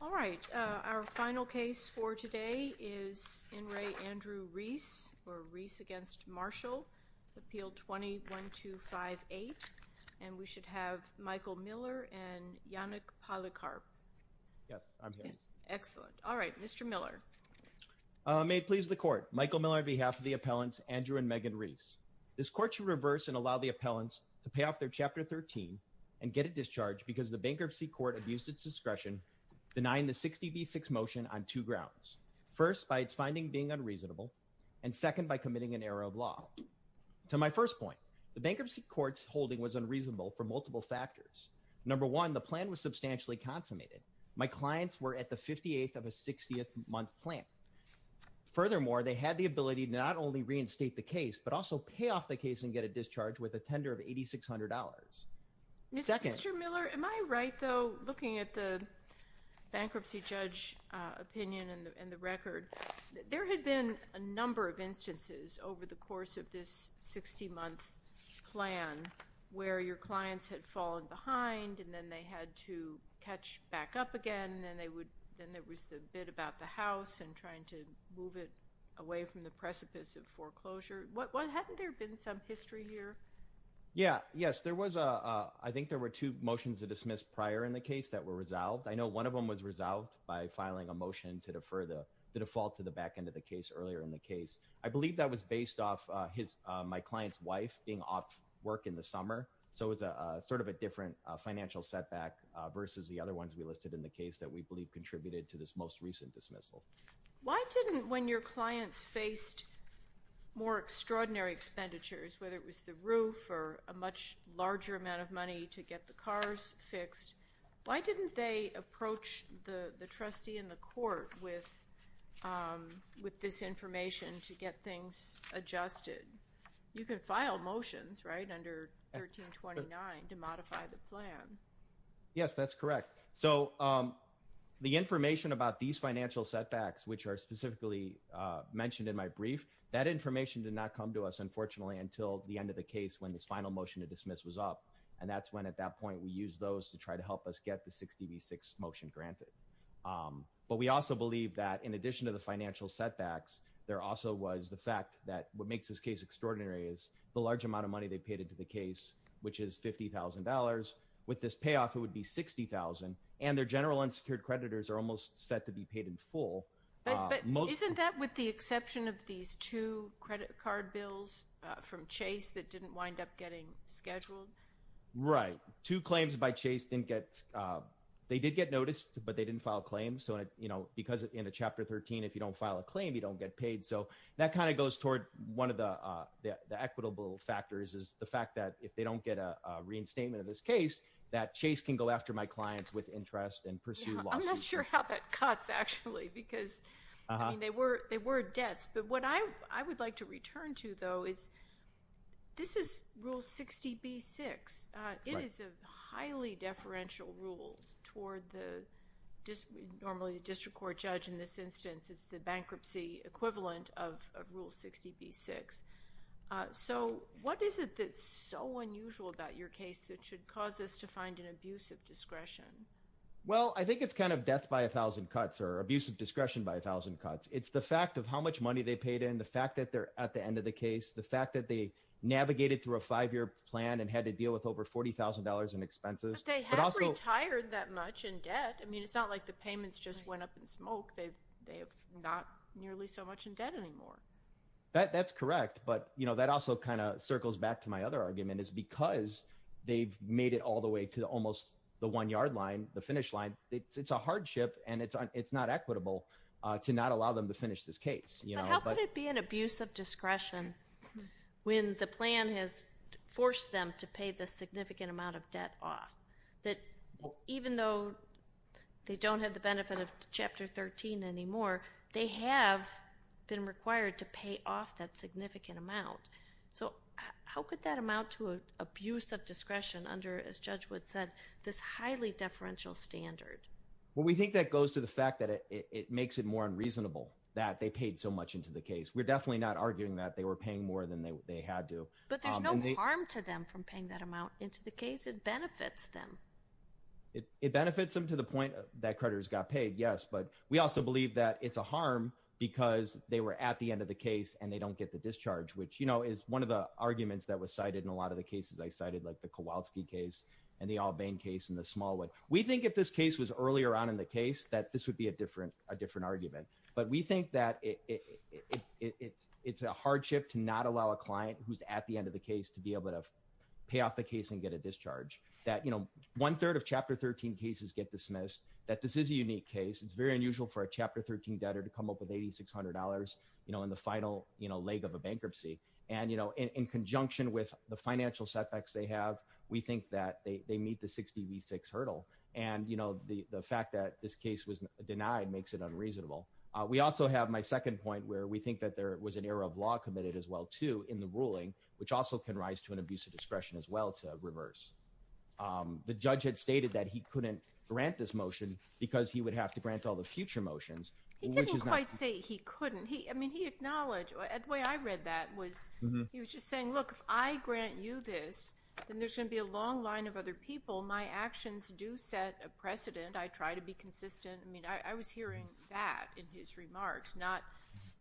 All right, our final case for today is In Re Andrew Rees or Rees against Marshall Appeal 21258 and we should have Michael Miller and Yannick Polycarp. Yes, I'm here. Excellent. All right, Mr. Miller. May it please the court. Michael Miller on behalf of the appellants Andrew and Megan Rees. This court should reverse and allow the appellants to pay off their Chapter 13 and get it denied the 60 v 6 motion on two grounds. First, by its finding being unreasonable and second by committing an error of law. To my first point, the bankruptcy court's holding was unreasonable for multiple factors. Number one, the plan was substantially consummated. My clients were at the 58th of a 60th month plan. Furthermore, they had the ability to not only reinstate the case, but also pay off the case and get a discharge with a tender of $8,600. Mr. Miller, am I right though, looking at the bankruptcy judge opinion and the record, there had been a number of instances over the course of this 60 month plan where your clients had fallen behind and then they had to catch back up again and then there was the bid about the house and trying to move it away from the precipice of foreclosure. Hadn't there been some history here? Yeah, yes, there was. I think there were two motions that dismissed prior in the case that were resolved. I know one of them was resolved by filing a motion to defer the default to the back end of the case earlier in the case. I believe that was based off my client's wife being off work in the summer, so it was a sort of a different financial setback versus the other ones we listed in the case that we believe contributed to this most recent dismissal. Why didn't, when your clients faced more extraordinary expenditures, whether it was the roof or a much larger amount of money to get the cars fixed, why didn't they approach the trustee in the court with this information to get things adjusted? You can file motions, right, under 1329 to modify the plan. Yes, that's correct. So the information about these financial setbacks, which are specifically mentioned in my brief, that information did not come to us, unfortunately, until the end of the case when this final motion to dismiss was up, and that's when, at that point, we used those to try to help us get the 60 v. 6 motion granted. But we also believe that in addition to the financial setbacks, there also was the fact that what makes this case extraordinary is the large amount of money they paid into the case, which is $50,000. With this payoff, it would be $60,000, and their general unsecured creditors are almost set to be paid in full. But isn't that with the exception of these two credit card bills from Chase that didn't wind up getting scheduled? Right. Two claims by Chase didn't get, they did get noticed, but they didn't file claims. So, you know, because in Chapter 13, if you don't file a claim, you don't get paid. So that kind of goes toward one of the equitable factors is the fact that if they don't get a reinstatement of this case, that Chase can go after my clients with interest and pursue lawsuits. I'm not sure how that cuts, actually, because they were debts. But what I would like to return to, though, is this is Rule 60 v. 6. It is a highly deferential rule toward the, normally the district court judge in this instance, it's the bankruptcy equivalent of Rule 60 v. 6. So what is it that's so unusual about your case that should cause us to find an abuse of discretion? Well, I think it's kind of death by a thousand cuts or abuse of discretion by a thousand cuts. It's the fact of how much money they paid in, the fact that they're at the end of the case, the fact that they navigated through a five-year plan and had to deal with over $40,000 in expenses. But they have retired that much in debt. I mean, it's not like the payments just went up in smoke. They have not nearly so much in debt anymore. That's correct. But, you know, that also kind of circles back to my other argument is because they've made it all the way to almost the one yard line, the finish line, it's a hardship and it's not equitable to not allow them to finish this case, you know. But how could it be an abuse of discretion when the plan has forced them to pay the significant amount of debt off? That even though they don't have the benefit of Chapter 13 anymore, they have been required to pay off that abuse of discretion under, as Judge Wood said, this highly deferential standard. Well, we think that goes to the fact that it makes it more unreasonable that they paid so much into the case. We're definitely not arguing that they were paying more than they had to. But there's no harm to them from paying that amount into the case. It benefits them. It benefits them to the point that creditors got paid, yes. But we also believe that it's a harm because they were at the end of the case and they don't get the discharge, which, you know, is one of the arguments that was cited in a lot of the cases I cited, like the Kowalski case and the Albane case and the small one. We think if this case was earlier on in the case, that this would be a different argument. But we think that it's a hardship to not allow a client who's at the end of the case to be able to pay off the case and get a discharge. That, you know, one-third of Chapter 13 cases get dismissed, that this is a unique case. It's very unusual for a Chapter 13 debtor to come up with $8,600, you know, in the final, you know, leg of a bankruptcy. And, you know, in conjunction with the financial setbacks they have, we think that they meet the 60 v. 6 hurdle. And, you know, the fact that this case was denied makes it unreasonable. We also have my second point where we think that there was an error of law committed as well, too, in the ruling, which also can rise to an abuse of discretion as well to reverse. The judge had stated that he didn't quite say he couldn't. He, I mean, he acknowledged, the way I read that was he was just saying, look, if I grant you this, then there's going to be a long line of other people. My actions do set a precedent. I try to be consistent. I mean, I was hearing that in his remarks, not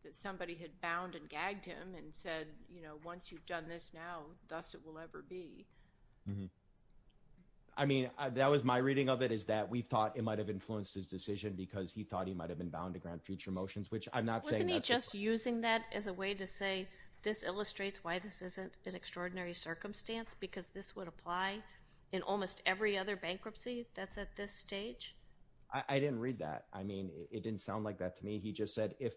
that somebody had bound and gagged him and said, you know, once you've done this now, thus it will ever be. I mean, that was my reading of it is that we thought it might have influenced his decision because he thought he might have been bound to grant future motions, which I'm not saying. Wasn't he just using that as a way to say this illustrates why this isn't an extraordinary circumstance because this would apply in almost every other bankruptcy that's at this stage? I didn't read that. I mean, it didn't sound like that to me. He just said, if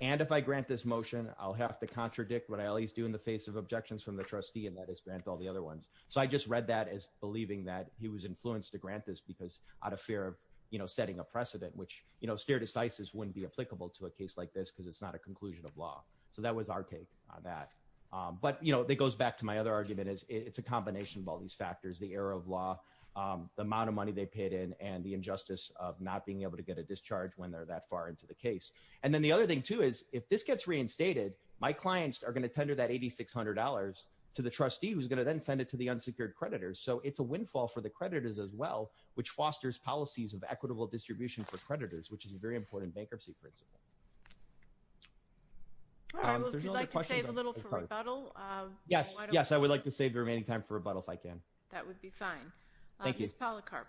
and if I grant this motion, I'll have to contradict what I always do in the face of objections from the trustee and that is grant all the other ones. So I just read that as believing that he was influenced to grant this because out of fear of, you know, setting a precedent, which, you know, stare decisis wouldn't be applicable to a case like this because it's not a conclusion of law. So that was our take on that. But, you know, that goes back to my other argument is it's a combination of all these factors, the error of law, the amount of money they paid in and the injustice of not being able to get a discharge when they're that far into the case. And then the other thing too, is if this gets reinstated, my clients are going to tender that $8,600 to the trustee who's going to then send it to the unsecured creditors. So it's a windfall for the creditors as well, which fosters policies of equitable distribution for creditors, which is a very important bankruptcy principle. All right. Well, if you'd like to save a little for rebuttal. Yes. Yes. I would like to save the remaining time for rebuttal if I can. That would be fine. Ms. Policarp.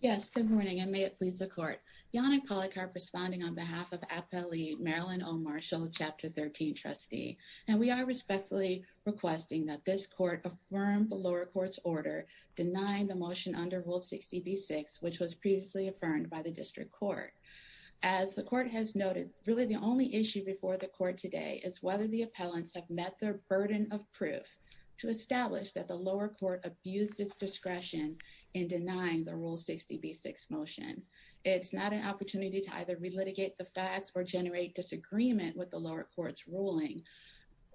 Yes. Good morning. And may it please the court. Yannick Policarp responding on behalf of Appellee Marilyn O. Marshall, Chapter 13 trustee. And we are respectfully requesting that this court affirm the lower court's order denying the motion under Rule 60B6, which was previously affirmed by the district court. As the court has noted, really the only issue before the court today is whether the appellants have met their burden of proof to establish that the lower court abused its discretion in denying the Rule 60B6 motion. It's not an opportunity to either relitigate the facts or generate disagreement with the lower court's ruling.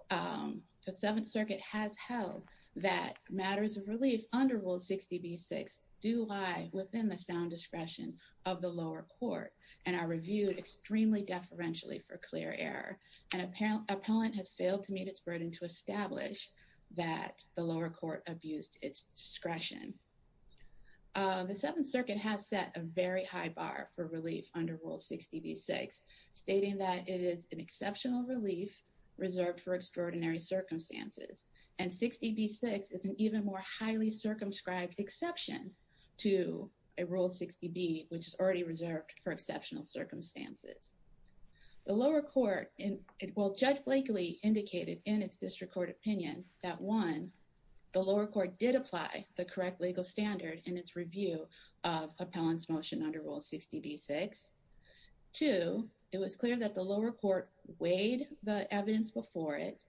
The Seventh Circuit has held that matters of relief under Rule 60B6 do lie within the sound discretion of the lower court and are reviewed extremely deferentially for clear error. And appellant has failed to meet its burden to establish that the lower court abused its discretion. The Seventh Circuit has set a very high bar for relief under Rule 60B6, stating that it is an exceptional relief reserved for extraordinary circumstances. And 60B6 is an even more highly circumscribed exception to a Rule 60B, which is already reserved for exceptional circumstances. The lower court in, well, Judge Blakely indicated in its district court opinion that one, the lower court did apply the correct standard in its review of appellant's motion under Rule 60B6. Two, it was clear that the lower court weighed the evidence before it,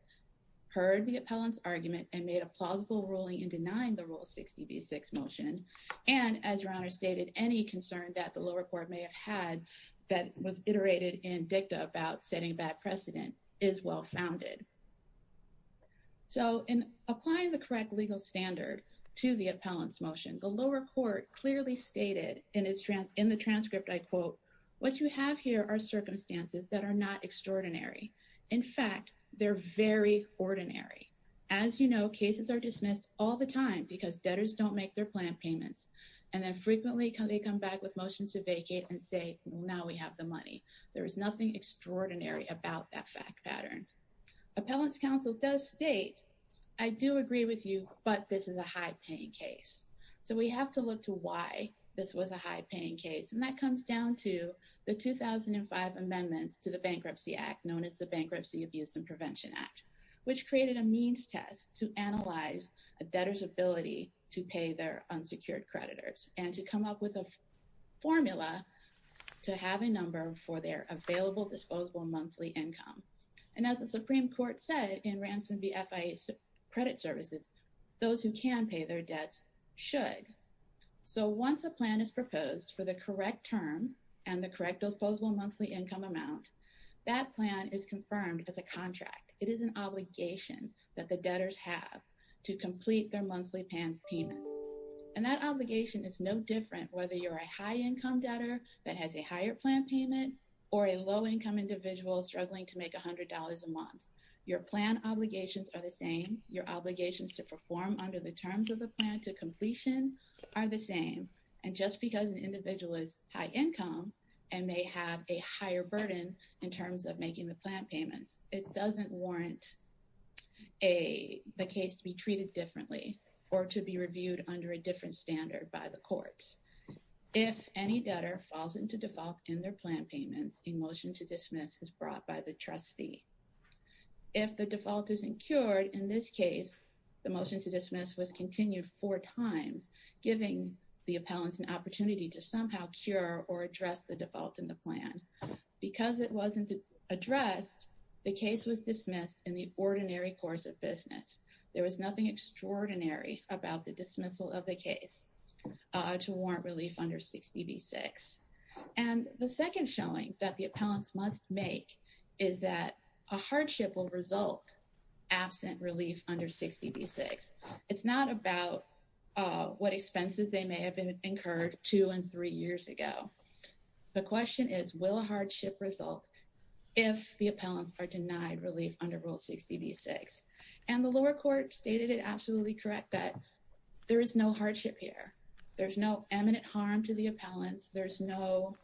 heard the appellant's argument, and made a plausible ruling in denying the Rule 60B6 motion. And as your Honor stated, any concern that the lower court may have had that was iterated in dicta about setting a bad precedent is well-founded. So, in applying the correct legal standard to the appellant's motion, the lower court clearly stated in the transcript, I quote, what you have here are circumstances that are not extraordinary. In fact, they're very ordinary. As you know, cases are dismissed all the time because debtors don't make their plan payments. And then frequently, they come back with motions to vacate and say, now we have the money. There is nothing extraordinary about that fact pattern. Appellant's counsel does state, I do agree with you, but this is a high-paying case. So, we have to look to why this was a high-paying case. And that comes down to the 2005 amendments to the Bankruptcy Act, known as the Bankruptcy Abuse and Prevention Act, which created a means test to analyze a debtor's ability to pay their unsecured creditors and to come up with a formula to have a number for their available disposable monthly income. And as the Supreme Court said in Ransom v. FIA Credit Services, those who can pay their debts should. So, once a plan is proposed for the correct term and the correct disposable monthly income amount, that plan is confirmed as a contract. It is an obligation that the debtors have to complete their monthly payments. And that that has a higher plan payment or a low-income individual struggling to make $100 a month. Your plan obligations are the same. Your obligations to perform under the terms of the plan to completion are the same. And just because an individual is high income and may have a higher burden in terms of making the plan payments, it doesn't warrant the case to be treated differently or to be reviewed under a different standard by the courts. If any debtor falls into default in their plan payments, a motion to dismiss is brought by the trustee. If the default isn't cured, in this case, the motion to dismiss was continued four times, giving the appellants an opportunity to somehow cure or address the default in the plan. Because it wasn't addressed, the case was dismissed in the ordinary course of business. There was nothing extraordinary about the dismissal of the case to warrant relief under 60B6. And the second showing that the appellants must make is that a hardship will result absent relief under 60B6. It's not about what expenses they may have incurred two and three years ago. The question is, will a hardship result if the appellants are denied relief under Rule 60B6? And the lower court stated it absolutely correct that there is no hardship here. There's no eminent harm to the appellants. There's no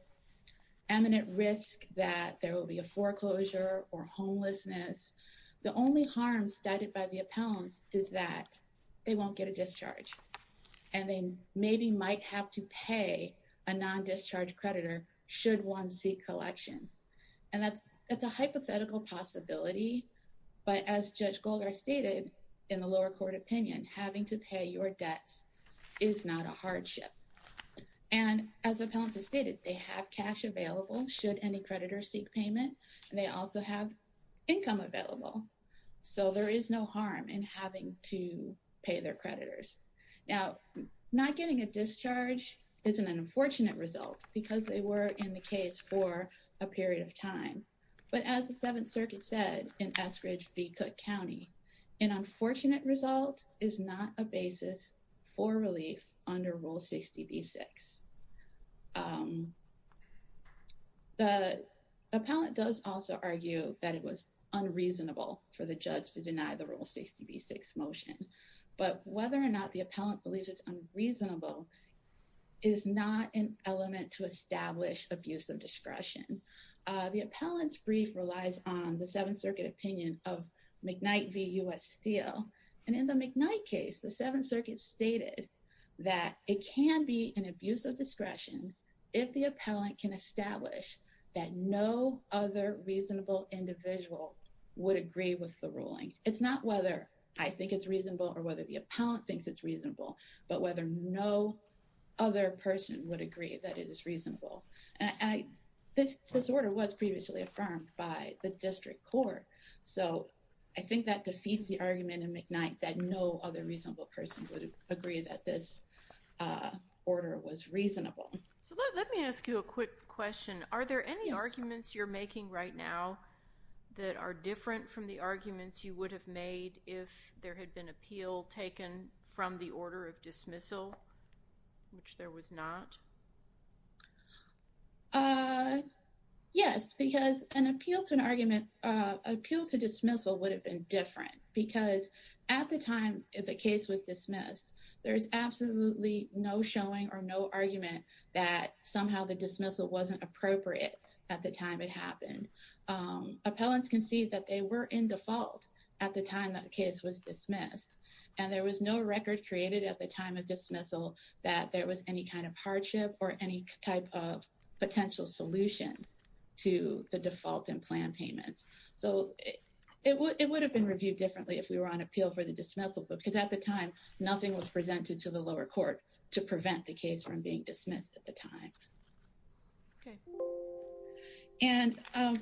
eminent risk that there will be a foreclosure or homelessness. The only harm cited by the appellants is that they won't get a discharge. And they maybe might have to pay a non-discharge creditor should one seek collection. And that's a hypothetical possibility. But as Judge Golder stated in the lower court opinion, having to pay your debts is not a hardship. And as appellants have stated, they have cash available should any creditor seek payment. And they also have income available. So there is no harm in having to pay their creditors. Now, not getting a discharge is an unfortunate result because they were in the case for a period of time. But as the Seventh Circuit said in Eskridge v. Cook County, an unfortunate result is not a basis for relief under Rule 60B6. The appellant does also argue that it was unreasonable for the judge to deny Rule 60B6 motion. But whether or not the appellant believes it's unreasonable is not an element to establish abuse of discretion. The appellant's brief relies on the Seventh Circuit opinion of McKnight v. U.S. Steele. And in the McKnight case, the Seventh Circuit stated that it can be an abuse of discretion if the appellant can establish that no other reasonable individual would agree with the ruling. It's not whether I think it's reasonable or whether the appellant thinks it's reasonable, but whether no other person would agree that it is reasonable. And this order was previously affirmed by the district court. So I think that defeats the argument in McKnight that no other reasonable person would agree that this order was reasonable. So let me ask you a quick question. Are there any arguments you're making right now that are different from the arguments you would have made if there had been appeal taken from the order of dismissal, which there was not? Yes, because an appeal to an argument, appeal to dismissal would have been different because at the time the case was dismissed, there's absolutely no showing or no argument that somehow the dismissal wasn't appropriate at the time it happened. Appellants can see that they were in default at the time that the case was dismissed. And there was no record created at the time of dismissal that there was any kind of hardship or any type of potential solution to the default in plan payments. So it would have been reviewed differently if we were on appeal for the dismissal because at the time nothing was presented to the lower court to prevent the case from being dismissed at the time. And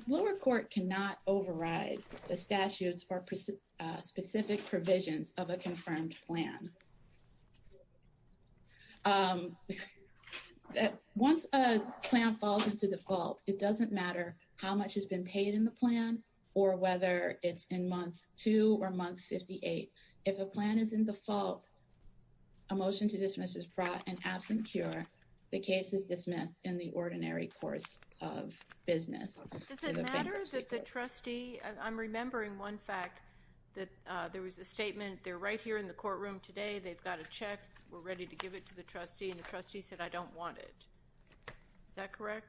lower court cannot override the statutes or specific provisions of a confirmed plan. Once a plan falls into default, it doesn't matter how much has been paid in the plan or whether it's in month two or month 58. If a plan is in default, a motion to dismiss is brought and absent cure, the case is dismissed in the ordinary course of business. Does it matter that the trustee, I'm remembering one fact that there was a statement there right in the courtroom today, they've got a check, we're ready to give it to the trustee and the trustee said I don't want it. Is that correct?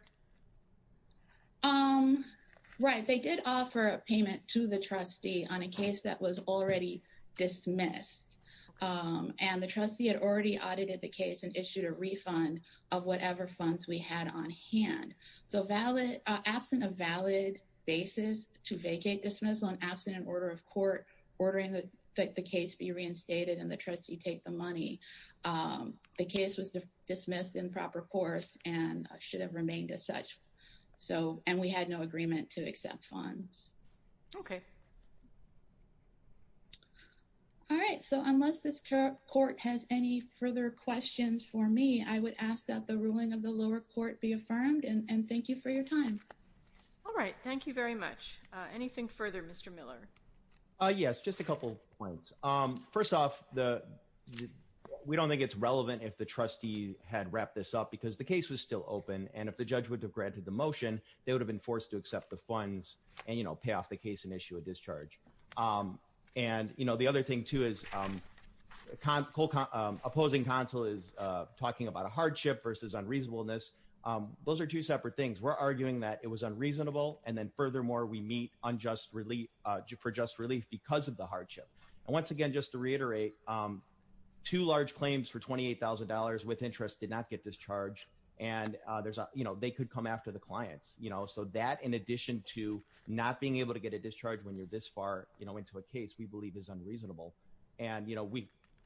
Right. They did offer a payment to the trustee on a case that was already dismissed. And the trustee had already audited the case and issued a refund of whatever funds we had on hand. So absent a valid basis to vacate dismissal and order of court ordering that the case be reinstated and the trustee take the money. The case was dismissed in proper course and should have remained as such. So and we had no agreement to accept funds. Okay. All right. So unless this court has any further questions for me, I would ask that the ruling of the lower court be affirmed and thank you for your time. All right. Thank you very much. Anything further, Mr. Miller? Yes, just a couple points. First off, we don't think it's relevant if the trustee had wrapped this up because the case was still open and if the judge would have granted the motion, they would have been forced to accept the funds and pay off the case and issue a discharge. And the other thing too is opposing counsel is talking about a hardship versus unreasonableness. Those are two separate things. We're arguing that it was unreasonable and then for just relief because of the hardship. And once again, just to reiterate, two large claims for $28,000 with interest did not get discharged and they could come after the clients. So that in addition to not being able to get a discharge when you're this far into a case we believe is unreasonable. And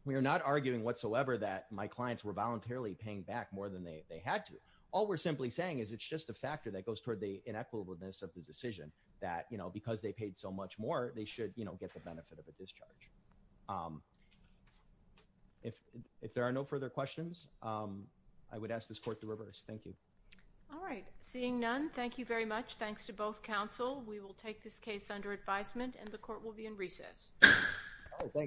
we are not arguing whatsoever that my clients were voluntarily paying back more than they had to. All we're simply saying is it's just a factor that goes toward the inequitableness of the decision that because they paid so much more, they should get the benefit of a discharge. If there are no further questions, I would ask this court to reverse. Thank you. All right. Seeing none, thank you very much. Thanks to both counsel. We will take this case under advisement and the court will be in recess.